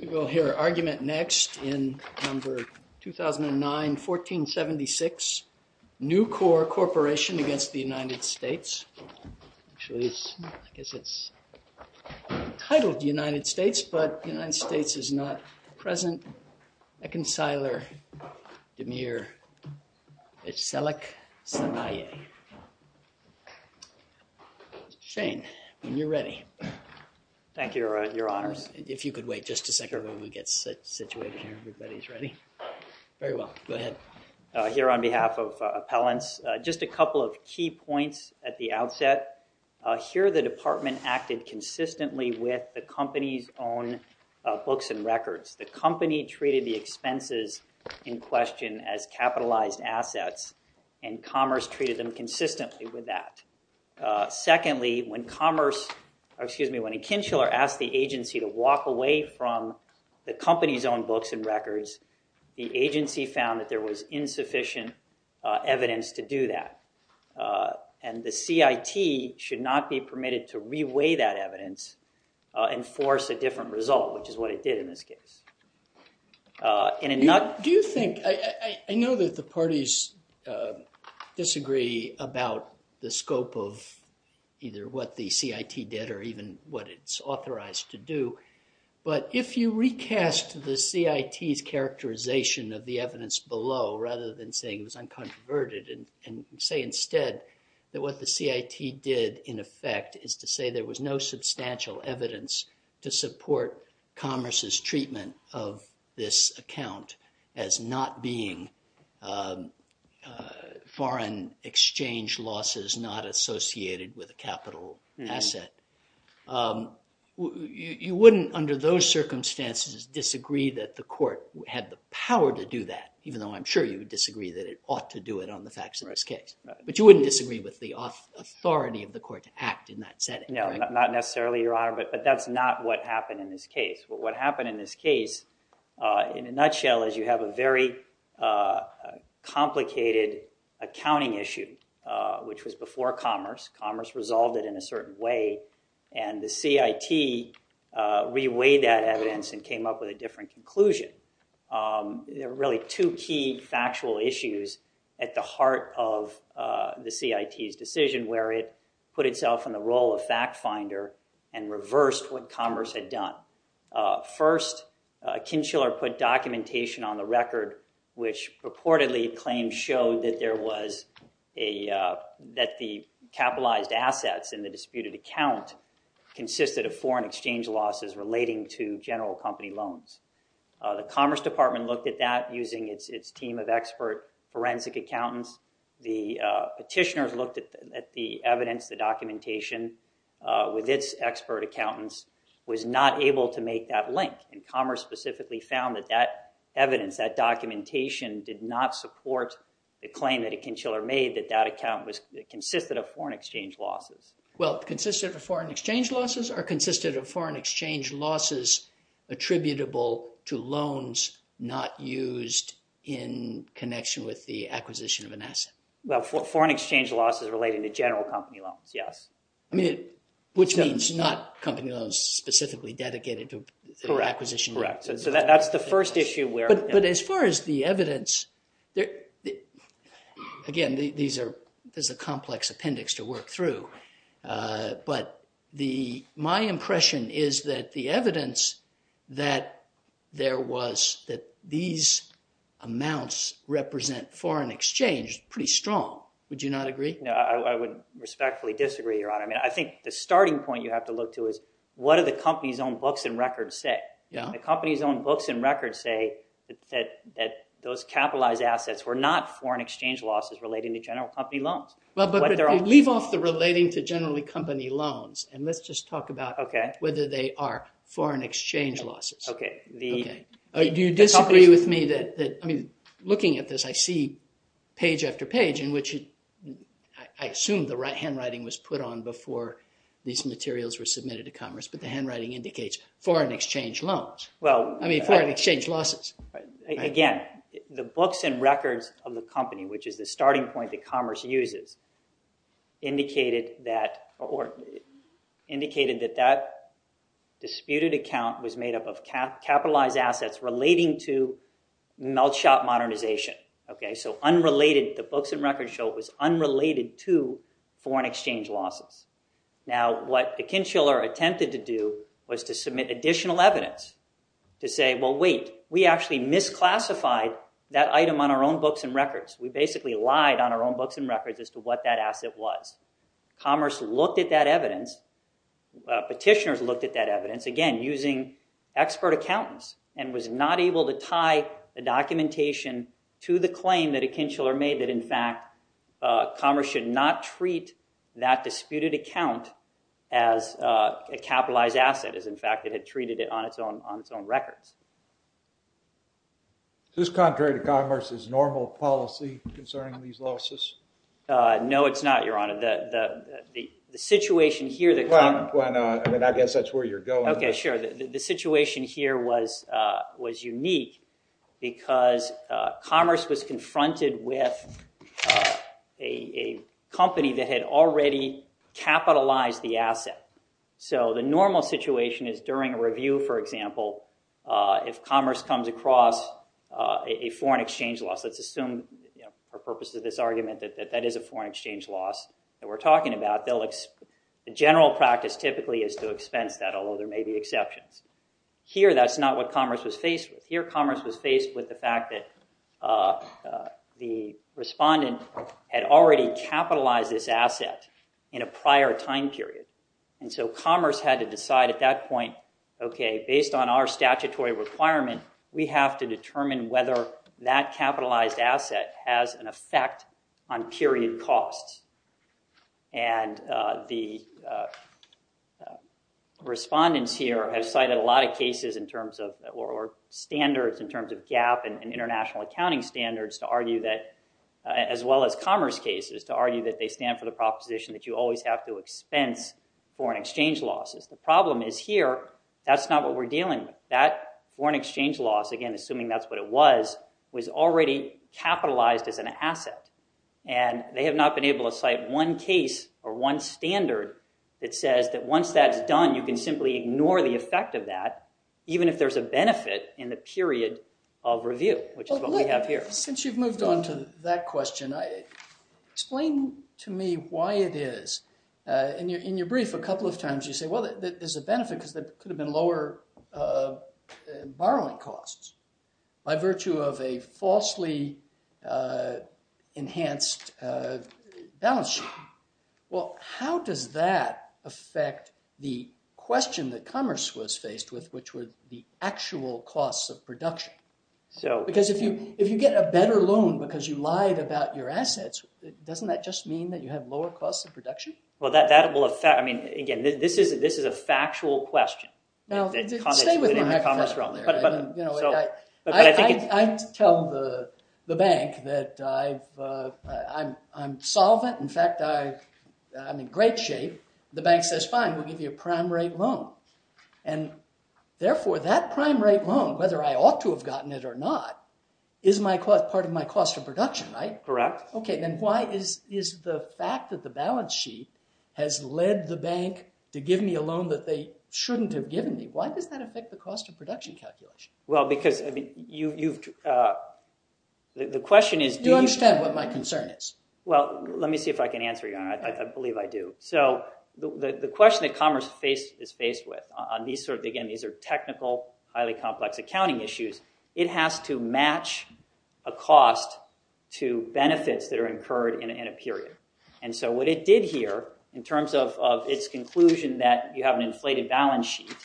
We will hear argument next in No. 2009-1476, Newcor Corporation v. United States, but United Shane, when you're ready. Thank you, your honors. If you could wait just a second while we get situated here, everybody's ready. Very well. Go ahead. Here on behalf of appellants, just a couple of key points at the outset. Here the department acted consistently with the company's own books and records. The company treated the expenses in question as capitalized assets, and Commerce treated them consistently with that. Secondly, when Commerce, excuse me, when Kincheller asked the agency to walk away from the company's own books and records, the agency found that there was insufficient evidence to do that. And the CIT should not be permitted to reweigh that evidence and force a different result, which is what it did in this case. Do you think, I know that the parties disagree about the scope of either what the CIT did or even what it's authorized to do, but if you recast the CIT's characterization of the evidence below rather than saying it was uncontroverted and say instead that what the CIT did in effect is to say there was no substantial evidence to support Commerce's treatment of this account as not being foreign exchange losses not associated with a capital asset, you wouldn't under those circumstances disagree that the court had the power to do that, even though I'm sure you would disagree that it ought to do it on the facts of this case. But you wouldn't disagree with the authority of the court to act in that setting, correct? No, not necessarily, Your Honor, but that's not what happened in this case. What happened in this case, in a nutshell, is you have a very complicated accounting issue, which was before Commerce. Commerce resolved it in a certain way, and the CIT reweighed that evidence and came up with a different conclusion. There are really two key factual issues at the heart of the CIT's decision where it put itself in the role of fact finder and reversed what Commerce had done. First, Kincheller put documentation on the record which purportedly claimed showed that the capitalized assets in the disputed account consisted of foreign exchange losses relating to general company loans. The Commerce Department looked at that using its team of expert forensic accountants. The petitioners looked at the evidence, the documentation, with its expert accountants, was not able to make that link, and Commerce specifically found that that evidence, that documentation did not support the claim that Kincheller made that that account consisted of foreign exchange losses. Well, consisted of foreign exchange losses or consisted of foreign exchange losses attributable to loans not used in connection with the acquisition of an asset? Well, foreign exchange losses relating to general company loans, yes. I mean, which means not company loans specifically dedicated to the acquisition of an asset. Correct. So that's the first issue where... And as far as the evidence, again, there's a complex appendix to work through, but my impression is that the evidence that there was that these amounts represent foreign exchange pretty strong. Would you not agree? No, I would respectfully disagree, Your Honor. I mean, I think the starting point you have to look to is what do the company's own books and records say? Yeah. What do the company's own books and records say that those capitalized assets were not foreign exchange losses relating to general company loans? Well, but leave off the relating to generally company loans, and let's just talk about whether they are foreign exchange losses. Okay. Okay. Do you disagree with me that... I mean, looking at this, I see page after page in which I assume the handwriting was put on before these materials were submitted to Commerce, but the handwriting indicates foreign exchange loans. Well... I mean, foreign exchange losses. Right. Again, the books and records of the company, which is the starting point that Commerce uses, indicated that that disputed account was made up of capitalized assets relating to melt shop modernization, okay? So unrelated... The books and records show it was unrelated to foreign exchange losses. Now, what Akinchiler attempted to do was to submit additional evidence to say, well, wait, we actually misclassified that item on our own books and records. We basically lied on our own books and records as to what that asset was. Commerce looked at that evidence, petitioners looked at that evidence, again, using expert accountants and was not able to tie the documentation to the claim that Akinchiler made that in a disputed account as a capitalized asset, as in fact it had treated it on its own records. Is this contrary to Commerce's normal policy concerning these losses? No, it's not, Your Honor. The situation here that... Well, I mean, I guess that's where you're going. Okay, sure. The situation here was unique because Commerce was confronted with a company that had already capitalized the asset. So the normal situation is during a review, for example, if Commerce comes across a foreign exchange loss, let's assume for purposes of this argument that that is a foreign exchange loss that we're talking about, the general practice typically is to expense that, although there may be exceptions. Here that's not what Commerce was faced with. Here Commerce was faced with the fact that the respondent had already capitalized this entire time period. And so Commerce had to decide at that point, okay, based on our statutory requirement, we have to determine whether that capitalized asset has an effect on period costs. And the respondents here have cited a lot of cases in terms of... or standards in terms of GAAP and international accounting standards to argue that... as well as Commerce cases to argue that they stand for the proposition that you always have to expense foreign exchange losses. The problem is here, that's not what we're dealing with. That foreign exchange loss, again, assuming that's what it was, was already capitalized as an asset. And they have not been able to cite one case or one standard that says that once that's done, you can simply ignore the effect of that, even if there's a benefit in the period of review, which is what we have here. Since you've moved on to that question, explain to me why it is... in your brief, a couple of times you say, well, there's a benefit because there could have been lower borrowing costs by virtue of a falsely enhanced balance sheet. Well, how does that affect the question that Commerce was faced with, which were the actual costs of production? Because if you get a better loan because you lied about your assets, doesn't that just mean that you have lower costs of production? Well, that will affect... I mean, again, this is a factual question that Commerce was in the Commerce realm there. I tell the bank that I'm solvent, in fact, I'm in great shape. The bank says, fine, we'll give you a prime rate loan. And therefore, that prime rate loan, whether I ought to have gotten it or not, is part of my cost of production, right? Correct. Okay, then why is the fact that the balance sheet has led the bank to give me a loan that they shouldn't have given me, why does that affect the cost of production calculation? Well, because the question is... You understand what my concern is. Well, let me see if I can answer you. I believe I do. So the question that Commerce is faced with, again, these are technical, highly complex accounting issues, it has to match a cost to benefits that are incurred in a period. And so what it did here, in terms of its conclusion that you have an inflated balance sheet,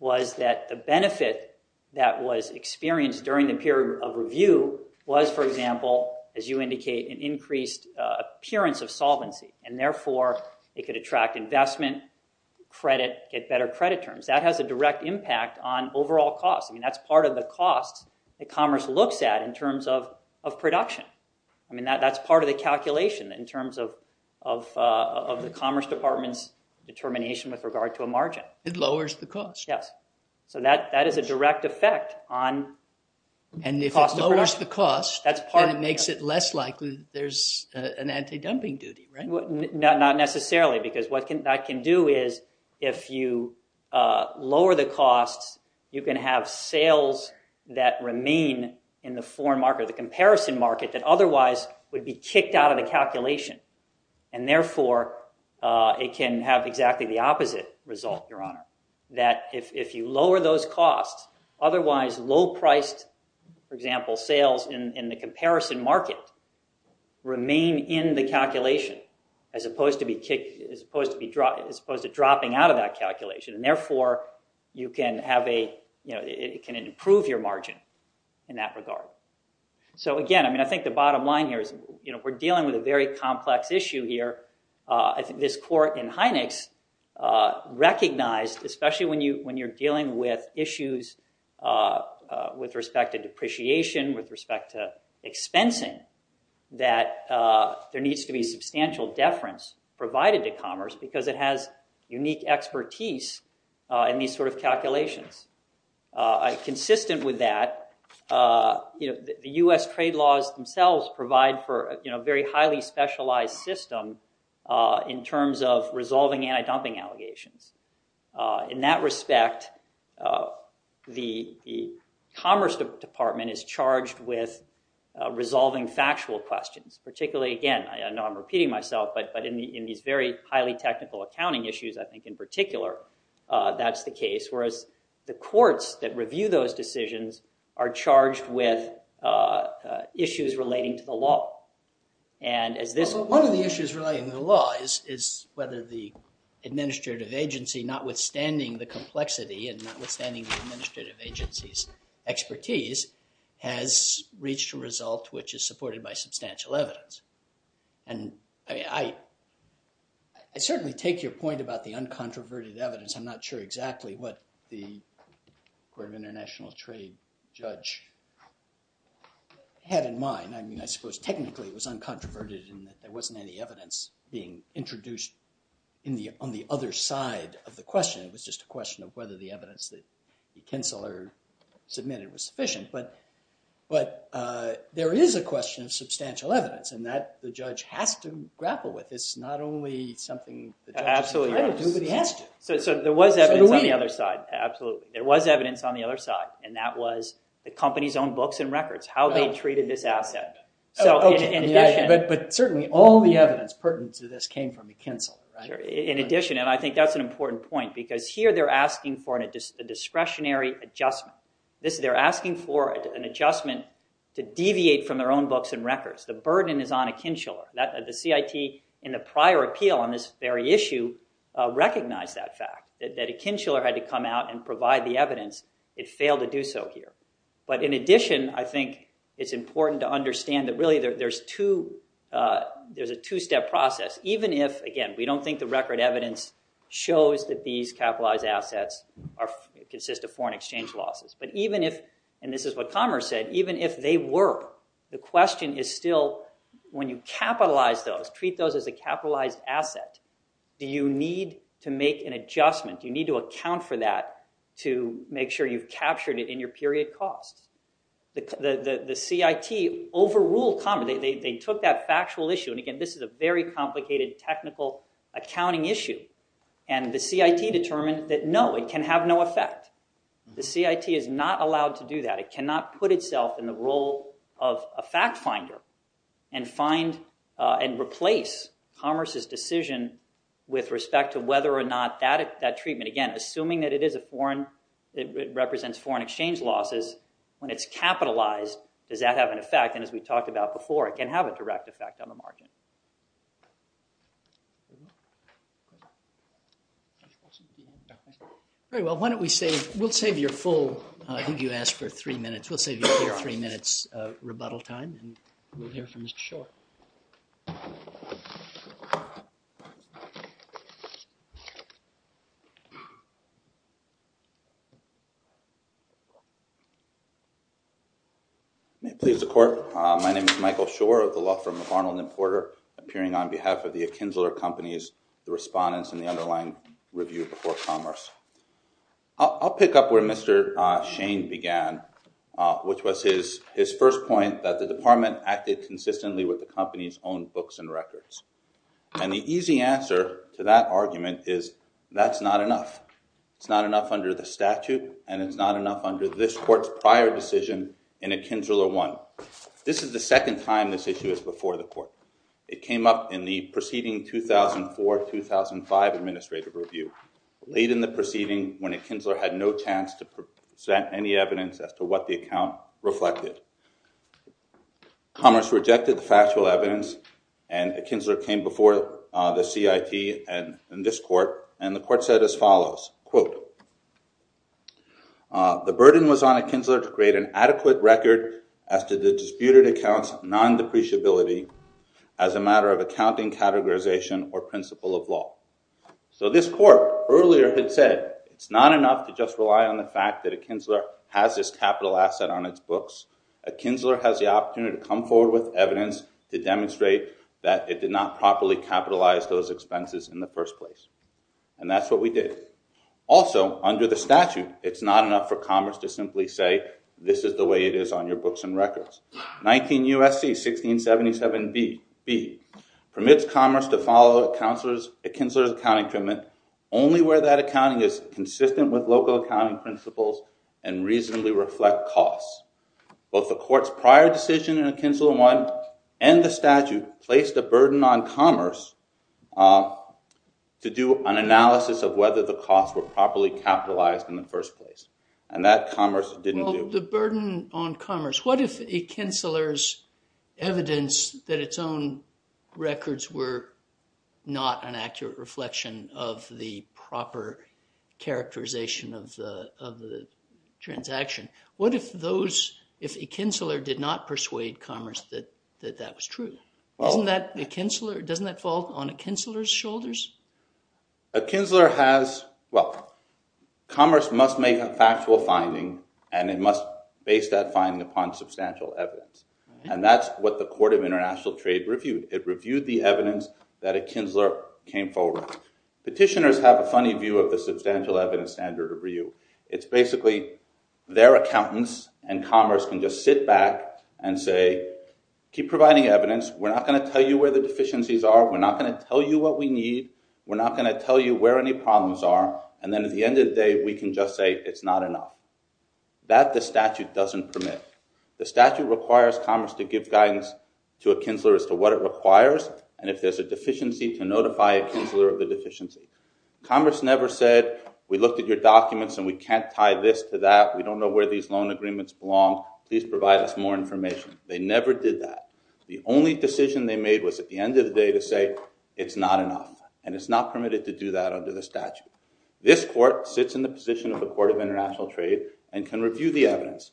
was that the benefit that was experienced during the period of review was, for example, as it could attract investment, credit, get better credit terms, that has a direct impact on overall cost. I mean, that's part of the cost that Commerce looks at in terms of production. I mean, that's part of the calculation in terms of the Commerce Department's determination with regard to a margin. It lowers the cost. Yes. So that is a direct effect on cost of production. And if it lowers the cost, then it makes it less likely there's an anti-dumping duty, right? Not necessarily, because what that can do is, if you lower the costs, you can have sales that remain in the foreign market, the comparison market, that otherwise would be kicked out of the calculation. And therefore, it can have exactly the opposite result, Your Honor. That if you lower those costs, otherwise low-priced, for example, sales in the comparison market remain in the calculation, as opposed to dropping out of that calculation. And therefore, it can improve your margin in that regard. So again, I mean, I think the bottom line here is, we're dealing with a very complex issue here. I think this court in Heinex recognized, especially when you're dealing with issues with respect to depreciation, with respect to expensing, that there needs to be substantial deference provided to commerce, because it has unique expertise in these sort of calculations. Consistent with that, the U.S. trade laws themselves provide for a very highly specialized system in terms of resolving anti-dumping allegations. In that respect, the Commerce Department is charged with resolving factual questions. Particularly, again, I know I'm repeating myself, but in these very highly technical accounting issues, I think in particular, that's the case. Whereas the courts that review those decisions are charged with issues relating to the law. One of the issues relating to the law is whether the administrative agency, notwithstanding the complexity and notwithstanding the administrative agency's expertise, has reached a result which is supported by substantial evidence. And I mean, I certainly take your point about the uncontroverted evidence. I'm not sure exactly what the Court of International Trade judge had in mind. I mean, I suppose technically, it was uncontroverted in that there wasn't any evidence being introduced on the other side of the question. It was just a question of whether the evidence that the counselor submitted was sufficient. But there is a question of substantial evidence, and that the judge has to grapple with. It's not only something the judge is trying to do, but he has to. Absolutely. So there was evidence on the other side. Absolutely. There was evidence on the other side, and that was the company's own books and records, how they treated this asset. But certainly, all the evidence pertinent to this came from McKinsel, right? In addition, and I think that's an important point, because here they're asking for a discretionary adjustment. They're asking for an adjustment to deviate from their own books and records. The burden is on McKinsel. The CIT, in the prior appeal on this very issue, recognized that fact, that McKinsel had to come out and provide the evidence. It failed to do so here. But in addition, I think it's important to understand that really there's a two-step process, even if, again, we don't think the record evidence shows that these capitalized assets consist of foreign exchange losses. But even if, and this is what Commerce said, even if they were, the question is still when you capitalize those, treat those as a capitalized asset, do you need to make an adjustment? Do you need to account for that to make sure you've captured it in your period costs? The CIT overruled Commerce. They took that factual issue, and again, this is a very complicated technical accounting issue. And the CIT determined that no, it can have no effect. The CIT is not allowed to do that. It cannot put itself in the role of a fact finder and replace Commerce's decision with respect to whether or not that treatment, again, assuming that it is a foreign, it represents foreign exchange losses, when it's capitalized, does that have an effect? And as we talked about before, it can have a direct effect on the market. All right, well, why don't we save, we'll save your full, I think you asked for three questions. Michael Shore. May it please the Court, my name is Michael Shore of the law firm McArnold & Porter, appearing on behalf of the Akinzler Companies, the respondents in the underlying review before Commerce. I'll pick up where Mr. Shane began, which was his first point, that the department acted consistently with the company's own books and records. And the easy answer to that argument is, that's not enough. It's not enough under the statute, and it's not enough under this court's prior decision in Akinzler 1. This is the second time this issue is before the court. It came up in the preceding 2004-2005 administrative review, late in the preceding, when Akinzler had no chance to present any evidence as to what the account reflected. Commerce rejected the factual evidence, and Akinzler came before the CIT and this court, and the court said as follows, quote, the burden was on Akinzler to create an adequate record as to the disputed account's non-depreciability as a matter of accounting categorization or principle of law. So this court earlier had said, it's not enough to just rely on the fact that Akinzler has this capital asset on its books. Akinzler has the opportunity to come forward with evidence to demonstrate that it did not properly capitalize those expenses in the first place. And that's what we did. Also, under the statute, it's not enough for Commerce to simply say, this is the way it is on your books and records. 19 U.S.C. 1677b permits Commerce to follow Akinzler's accounting treatment only where that accounting is consistent with local accounting principles and reasonably reflect costs. Both the court's prior decision in Akinzler 1 and the statute placed a burden on Commerce to do an analysis of whether the costs were properly capitalized in the first place. And that Commerce didn't do. The burden on Commerce. What if Akinzler's evidence that its own records were not an accurate reflection of the proper characterization of the transaction. What if those, if Akinzler did not persuade Commerce that that was true? Doesn't that fall on Akinzler's shoulders? Akinzler has, well, Commerce must make a factual finding and it must base that finding upon substantial evidence. And that's what the Court of International Trade reviewed. It reviewed the evidence that Akinzler came forward. Petitioners have a funny view of the substantial evidence standard review. It's basically their accountants and Commerce can just sit back and say, keep providing evidence. We're not going to tell you where the deficiencies are. We're not going to tell you what we need. We're not going to tell you where any problems are. And then at the end of the day, we can just say it's not enough. That the statute doesn't permit. And if there's a deficiency, to notify Akinzler of the deficiency. Commerce never said, we looked at your documents and we can't tie this to that. We don't know where these loan agreements belong. Please provide us more information. They never did that. The only decision they made was at the end of the day to say, it's not enough. And it's not permitted to do that under the statute. This court sits in the position of the Court of International Trade and can review the evidence.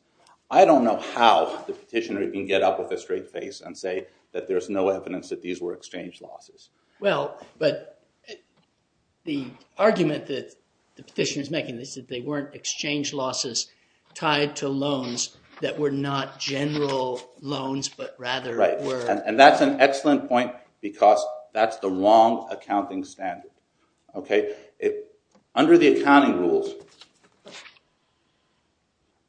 I don't know how the petitioner can get up with a straight face and say that there's no evidence that these were exchange losses. Well, but the argument that the petitioner is making is that they weren't exchange losses tied to loans that were not general loans, but rather were. And that's an excellent point because that's the wrong accounting standard. Under the accounting rules,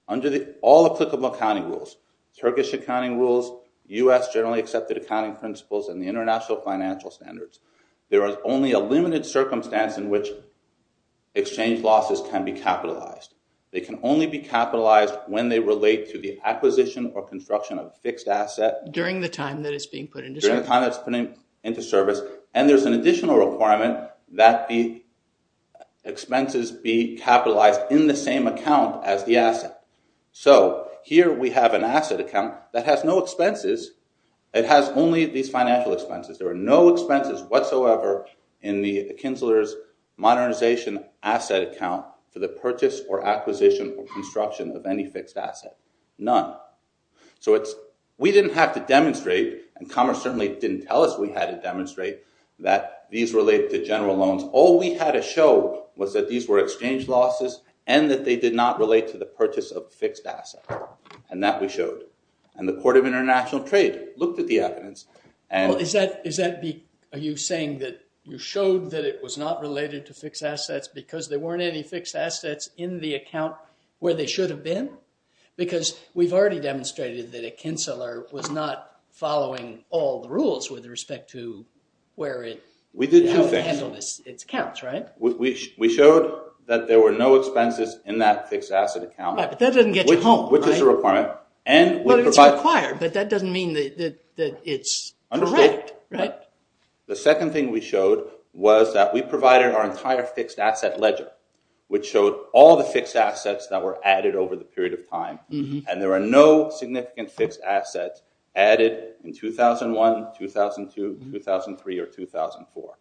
under the all applicable accounting rules, Turkish accounting rules, U.S. generally accepted accounting principles and the international financial standards, there is only a limited circumstance in which exchange losses can be capitalized. They can only be capitalized when they relate to the acquisition or construction of fixed asset during the time that it's being put into service. And there's an additional requirement that the expenses be capitalized in the same account as the asset. So here we have an asset account that has no expenses. It has only these financial expenses. There are no expenses whatsoever in the Kinsler's modernization asset account for the purchase or acquisition or construction of any fixed asset, none. So we didn't have to demonstrate, and Commerce certainly didn't tell us we had to demonstrate, that these relate to general loans. All we had to show was that these were exchange losses and that they did not relate to the purchase of fixed assets. And that we showed. And the Court of International Trade looked at the evidence and... Well, is that... Are you saying that you showed that it was not related to fixed assets because there weren't any fixed assets in the account where they should have been? Because we've already demonstrated that a Kinsler was not following all the rules with respect to where it... We did have fixed... ...how to handle its accounts, right? We showed that there were no expenses in that fixed asset account. Right, but that doesn't get you home, right? Which is a requirement. But it's required, but that doesn't mean that it's correct, right? The second thing we showed was that we provided our entire fixed asset ledger, which showed all the fixed assets that were added over the period of time, and there were no significant fixed assets added in 2001, 2002, 2003, or 2004.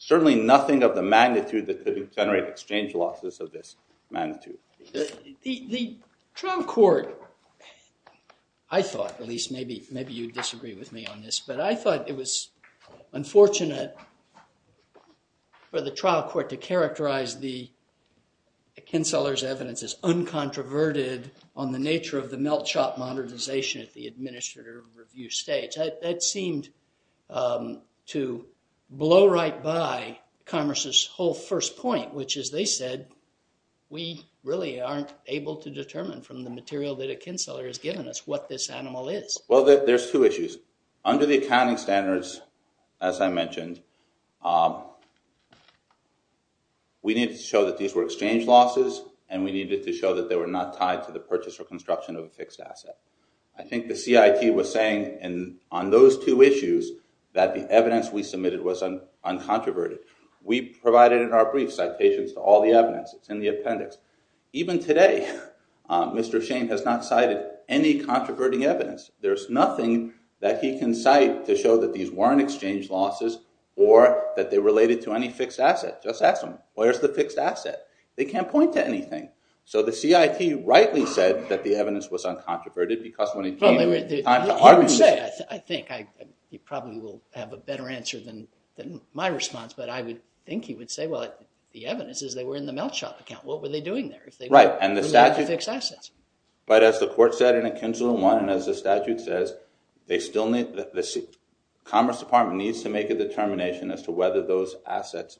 Certainly nothing of the magnitude that could generate exchange losses of this magnitude. The trial court, I thought, at least maybe you'd disagree with me on this, but I thought it was unfortunate for the trial court to characterize the Kinsler's evidence as uncontroverted on the nature of the melt shop modernization at the administrative review stage. That seemed to blow right by Congress's whole first point, which is they said, we really aren't able to determine from the material that a Kinsler has given us what this animal is. Well, there's two issues. Under the accounting standards, as I mentioned, we need to show that these were exchange losses and we needed to show that they were not tied to the purchase or construction of a fixed asset. I think the CIT was saying on those two issues that the evidence we submitted was uncontroverted. We provided in our brief citations to all the evidence, it's in the appendix. Even today, Mr. Shane has not cited any controverting evidence. There's nothing that he can cite to show that these weren't exchange losses or that they related to any fixed asset. Just ask them, where's the fixed asset? They can't point to anything. The CIT rightly said that the evidence was uncontroverted because when it came time to He would say, I think. He probably will have a better answer than my response, but I would think he would say, well, the evidence is they were in the melt shop account. What were they doing there? Right. And the statute- Fixed assets. But as the court said in a Kinsler one and as the statute says, the Commerce Department needs to make a determination as to whether those assets,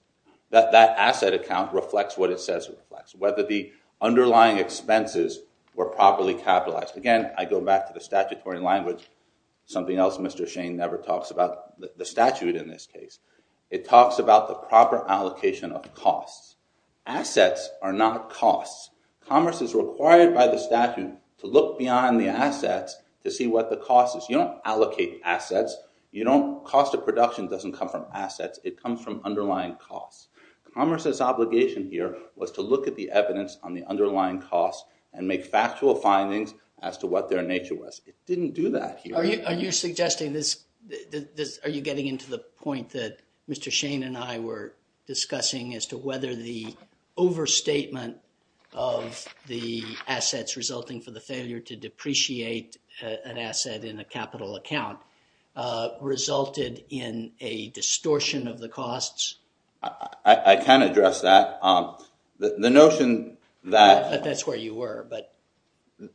that that asset account reflects what it says it reflects. Whether the underlying expenses were properly capitalized. Again, I go back to the statutory language. Something else Mr. Shane never talks about, the statute in this case. It talks about the proper allocation of costs. Assets are not costs. Commerce is required by the statute to look beyond the assets to see what the cost is. You don't allocate assets. You don't, cost of production doesn't come from assets. It comes from underlying costs. Commerce's obligation here was to look at the evidence on the underlying costs and make factual findings as to what their nature was. It didn't do that here. Are you suggesting this, are you getting into the point that Mr. Shane and I were discussing as to whether the overstatement of the assets resulting from the failure to depreciate an asset in a capital account resulted in a distortion of the costs? I can address that. The notion that... I thought that's where you were, but...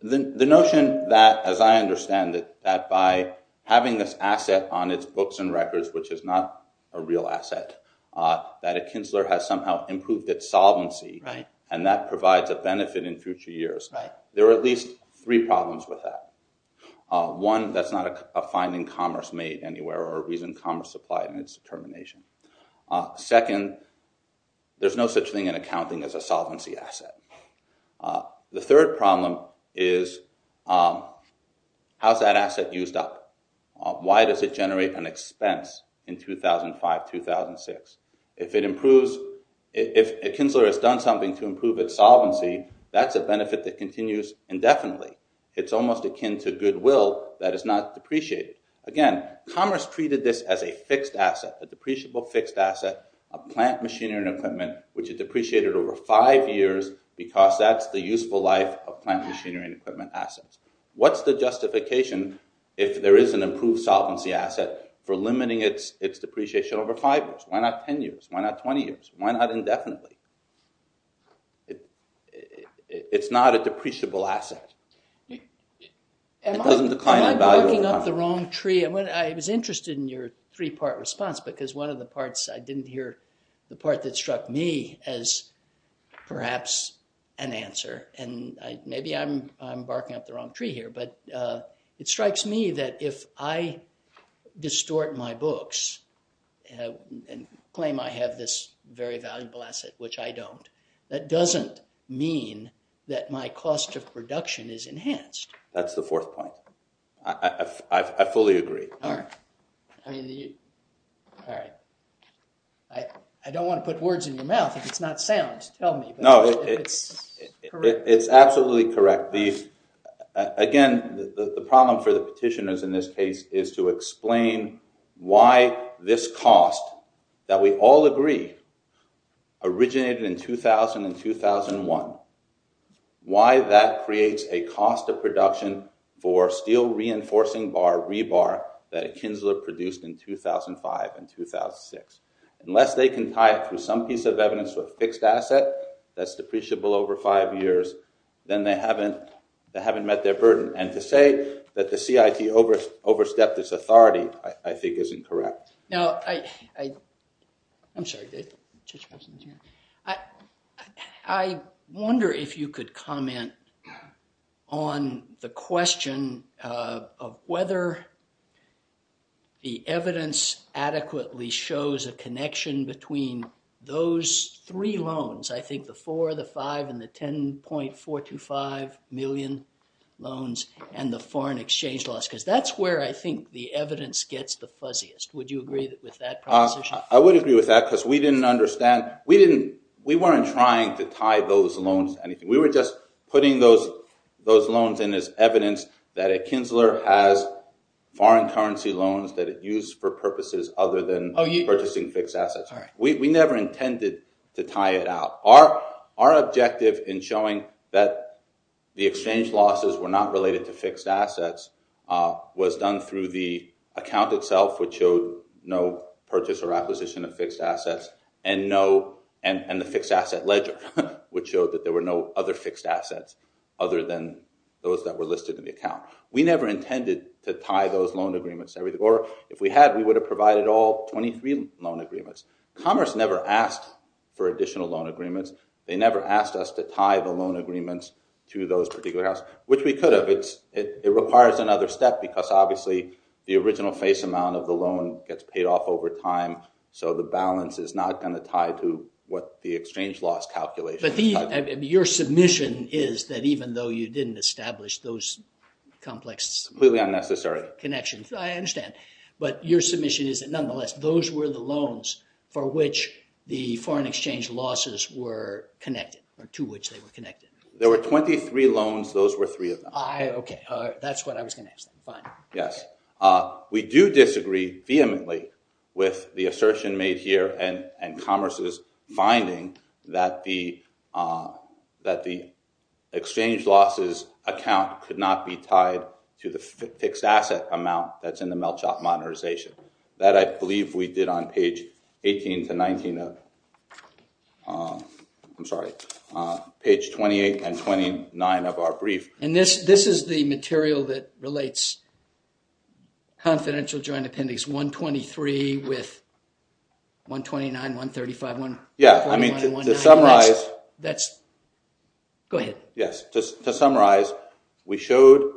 The notion that, as I understand it, that by having this asset on its books and records, which is not a real asset, that a Kinsler has somehow improved its solvency and that provides a benefit in future years. There are at least three problems with that. One that's not a finding commerce made anywhere or a reason commerce applied in its determination. Second, there's no such thing in accounting as a solvency asset. The third problem is, how's that asset used up? Why does it generate an expense in 2005, 2006? If it improves... If a Kinsler has done something to improve its solvency, that's a benefit that continues indefinitely. It's almost akin to goodwill that is not depreciated. Again, commerce treated this as a fixed asset, a depreciable fixed asset, a plant machinery and equipment, which it depreciated over five years because that's the useful life of plant machinery and equipment assets. What's the justification if there is an improved solvency asset for limiting its depreciation over five years? Why not 10 years? Why not 20 years? Why not indefinitely? It's not a depreciable asset. Am I barking up the wrong tree? I was interested in your three-part response because one of the parts, I didn't hear the part that struck me as perhaps an answer, and maybe I'm barking up the wrong tree here, but it strikes me that if I distort my books and claim I have this very valuable asset, which I don't, that doesn't mean that my cost of production is enhanced. That's the fourth point. I fully agree. All right. I don't want to put words in your mouth. If it's not sound, tell me. No, it's absolutely correct. Again, the problem for the petitioners in this case is to explain why this cost that we all agree originated in 2000 and 2001, why that creates a cost of production for steel reinforcing bar, rebar, that Kinsler produced in 2005 and 2006. Unless they can tie it through some piece of evidence to a fixed asset that's depreciable over five years, then they haven't met their burden. To say that the CIT overstepped its authority, I think, isn't correct. Now, I wonder if you could comment on the question of whether the evidence adequately shows a connection between those three loans, I think the four, the five, and the 10.425 million loans and the foreign exchange laws, because that's where I think the evidence gets the fuzziest. Would you agree with that proposition? I would agree with that, because we weren't trying to tie those loans. We were just putting those loans in as evidence that a Kinsler has foreign currency loans that it used for purposes other than purchasing fixed assets. We never intended to tie it out. Our objective in showing that the exchange losses were not related to fixed assets was done through the account itself, which showed no purchase or acquisition of fixed assets, and the fixed asset ledger, which showed that there were no other fixed assets other than those that were listed in the account. We never intended to tie those loan agreements, or if we had, we would have provided all 23 loan agreements. Commerce never asked for additional loan agreements. They never asked us to tie the loan agreements to those particular houses, which we could have. It requires another step, because obviously the original face amount of the loan gets paid off over time, so the balance is not going to tie to what the exchange loss calculation is tied to. Your submission is that even though you didn't establish those complex connections, I understand, but your submission is that nonetheless, those were the loans for which the foreign exchange losses were connected, or to which they were connected. There were 23 loans. Those were three of them. Okay. That's what I was going to ask. Fine. Yes. We do disagree vehemently with the assertion made here and Commerce's finding that the exchange losses account could not be tied to the fixed asset amount that's in the melt shop modernization. That I believe we did on page 18 to 19 of... I'm sorry, page 28 and 29 of our brief. This is the material that relates confidential joint appendix 123 with 129, 135, 141, and 190. Yes. I mean, to summarize... Go ahead. Yes. To summarize, we showed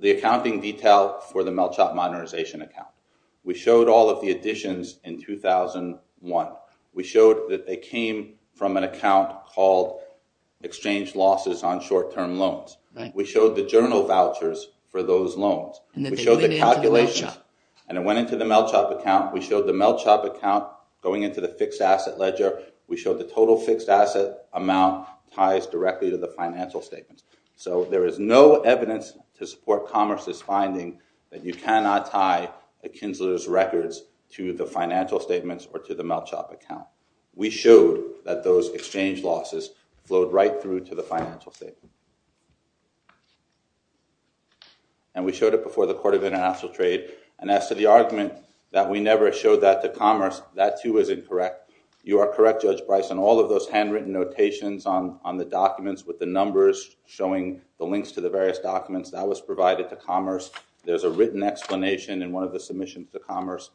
the accounting detail for the melt shop modernization account. We showed all of the additions in 2001. We showed that they came from an account called exchange losses on short-term loans. We showed the journal vouchers for those loans. We showed the calculations, and it went into the melt shop account. We showed the melt shop account going into the fixed asset ledger. We showed the total fixed asset amount ties directly to the financial statements. There is no evidence to support Commerce's finding that you cannot tie the Kinsler's records to the financial statements or to the melt shop account. We showed that those exchange losses flowed right through to the financial statement. We showed it before the Court of International Trade, and as to the argument that we never showed that to Commerce, that too is incorrect. You are correct, Judge Bryson. All of those handwritten notations on the documents with the numbers showing the links to the various documents, that was provided to Commerce. There's a written explanation in one of the submissions to Commerce.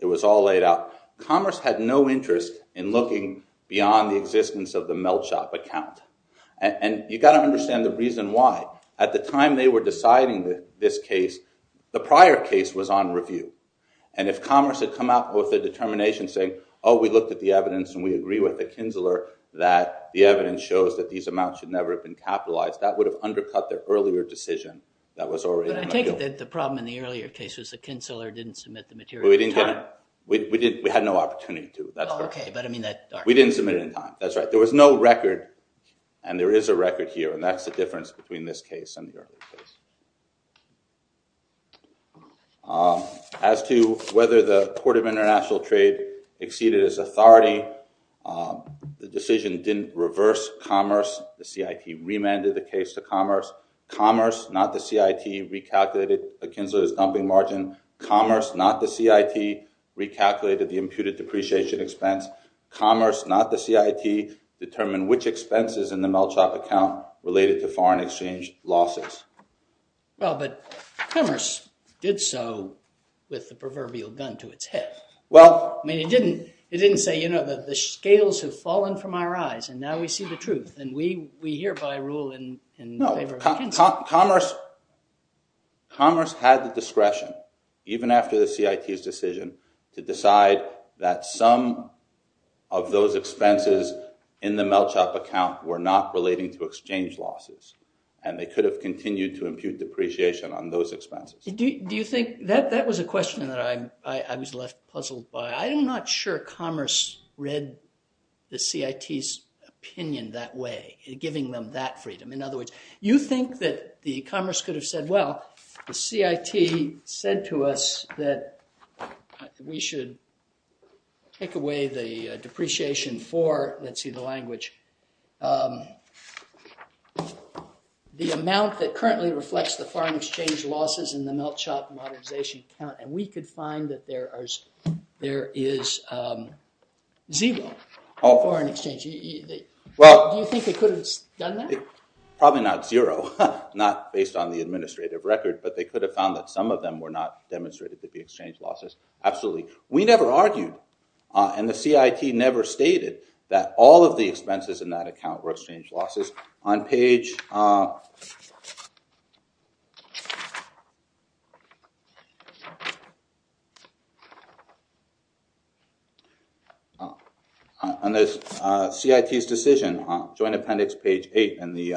It was all laid out. Commerce had no interest in looking beyond the existence of the melt shop account. You got to understand the reason why. At the time they were deciding this case, the prior case was on review. If Commerce had come out with a determination saying, we looked at the evidence and we agree with the Kinsler that the evidence shows that these amounts should never have been capitalized, that would have undercut their earlier decision that was already on review. The problem in the earlier case was the Kinsler didn't submit the material in time. We had no opportunity to. We didn't submit it in time. That's right. There was no record, and there is a record here, and that's the difference between this and the earlier case. As to whether the Court of International Trade exceeded its authority, the decision didn't reverse Commerce. The CIT remanded the case to Commerce. Commerce, not the CIT, recalculated the Kinsler's dumping margin. Commerce, not the CIT, recalculated the imputed depreciation expense. Commerce, not the CIT, determined which expenses in the melt shop account related to foreign exchange losses. Well, but Commerce did so with the proverbial gun to its head. Well... I mean, it didn't say, you know, the scales have fallen from our eyes and now we see the truth and we hereby rule in favor of the Kinsler. No. Commerce had the discretion, even after the CIT's decision, to decide that some of those expenses were not included, and they could have continued to impute depreciation on those expenses. Do you think... That was a question that I was left puzzled by. I'm not sure Commerce read the CIT's opinion that way, giving them that freedom. In other words, you think that Commerce could have said, well, the CIT said to us that we should take away the depreciation for, let's see, the language. The amount that currently reflects the foreign exchange losses in the melt shop modernization account, and we could find that there is zero foreign exchange. Do you think they could have done that? Probably not zero, not based on the administrative record, but they could have found that some of them were not demonstrated to be exchange losses, absolutely. We never argued, and the CIT never stated that all of the expenses in that account were exchange losses. On page... On the CIT's decision, Joint Appendix, page 8, and the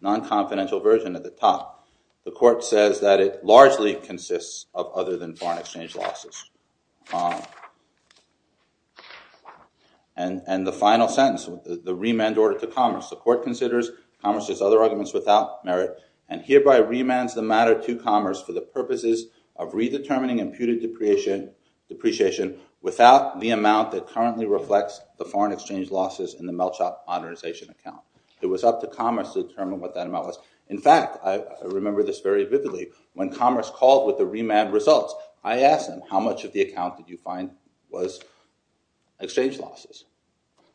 non-confidential version at the top, the court says that it largely consists of other than foreign exchange losses. And the final sentence, the remand order to Commerce, the court considers Commerce's other arguments without merit, and hereby remands the matter to Commerce for the purposes of redetermining imputed depreciation without the amount that currently reflects the foreign exchange losses in the melt shop modernization account. It was up to Commerce to determine what that amount was. In fact, I remember this very vividly. When Commerce called with the remand results, I asked them, how much of the account did you find was exchange losses?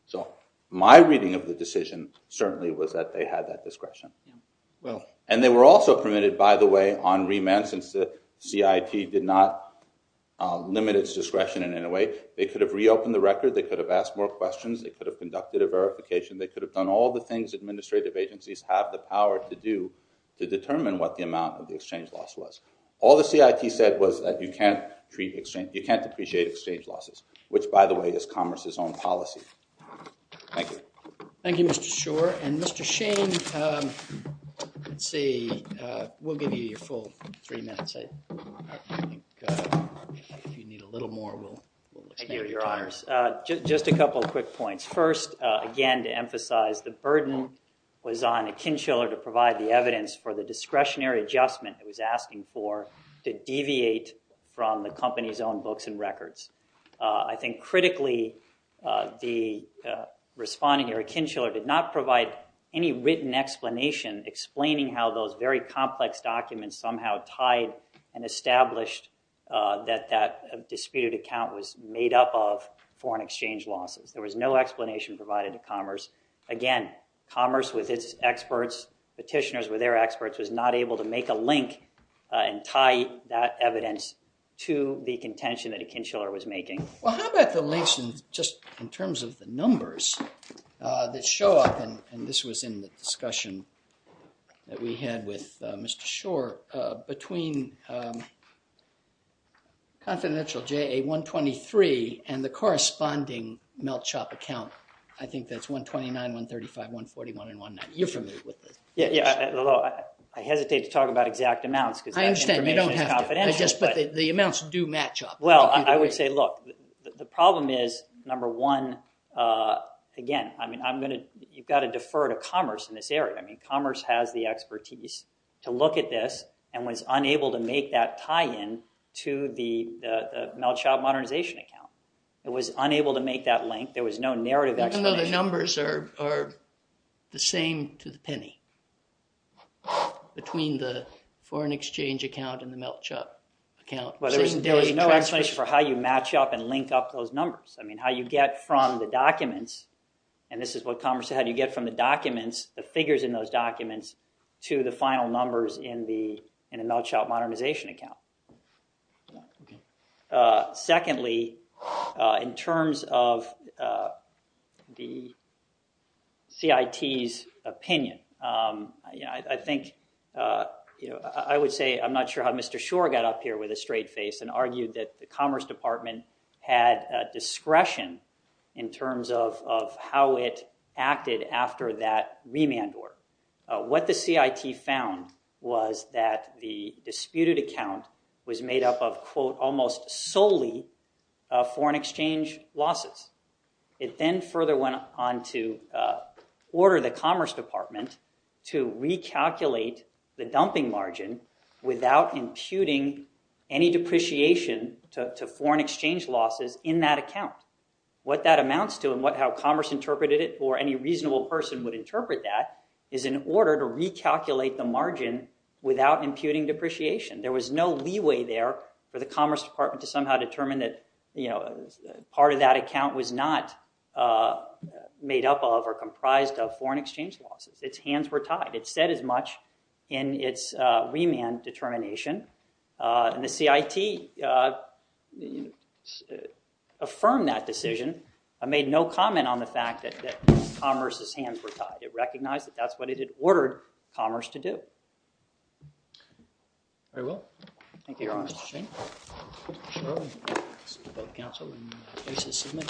So my reading of the decision certainly was that they had that discretion. And they were also permitted, by the way, on remand, since the CIT did not limit its discretion in any way, they could have reopened the record, they could have asked more questions, they could have conducted a verification, they could have done all the things administrative agencies have the power to do to determine what the amount of the exchange loss was. All the CIT said was that you can't appreciate exchange losses, which, by the way, is Commerce's own policy. Thank you. Thank you, Mr. Schor. And Mr. Shane, let's see, we'll give you your full three minutes, I think. If you need a little more, we'll extend your time. Thank you, Your Honors. Just a couple of quick points. First, again, to emphasize the burden was on Akinchiller to provide the evidence for the discretionary adjustment it was asking for to deviate from the company's own books and records. I think, critically, the respondent here, Akinchiller, did not provide any written explanation explaining how those very complex documents somehow tied and established that that disputed account was made up of foreign exchange losses. There was no explanation provided to Commerce. Again, Commerce, with its experts, petitioners were their experts, was not able to make a link and tie that evidence to the contention that Akinchiller was making. Well, how about the links just in terms of the numbers that show up, and this was in the discussion that we had with Mr. Schor, between confidential JA-123 and the corresponding Melt Shop account, I think that's 129, 135, 141, and 190. You're familiar with this. Yeah. Although, I hesitate to talk about exact amounts because that information is confidential. I understand. You don't have to. But the amounts do match up. Well, I would say, look, the problem is, number one, again, you've got to defer to Commerce in this area. I mean, Commerce has the expertise to look at this and was unable to make that tie-in to the Melt Shop modernization account. It was unable to make that link. There was no narrative explanation. Even though the numbers are the same to the penny between the foreign exchange account and the Melt Shop account. Well, there was no explanation for how you match up and link up those numbers. I mean, how you get from the documents, and this is what Commerce said, how do you get from the documents, the figures in those documents, to the final numbers in the Melt Shop modernization account. Yeah. Okay. Secondly, in terms of the CIT's opinion, I think, I would say, I'm not sure how Mr. Schor got up here with a straight face and argued that the Commerce Department had discretion in terms of how it acted after that remand order. What the CIT found was that the disputed account was made up of, quote, almost solely foreign exchange losses. It then further went on to order the Commerce Department to recalculate the dumping margin without imputing any depreciation to foreign exchange losses in that account. What that amounts to and how Commerce interpreted it, or any reasonable person would interpret that, is in order to recalculate the margin without imputing depreciation. There was no leeway there for the Commerce Department to somehow determine that part of that account was not made up of or comprised of foreign exchange losses. Its hands were tied. It said as much in its remand determination, and the CIT affirmed that decision and made it recognize that that's what it had ordered Commerce to do.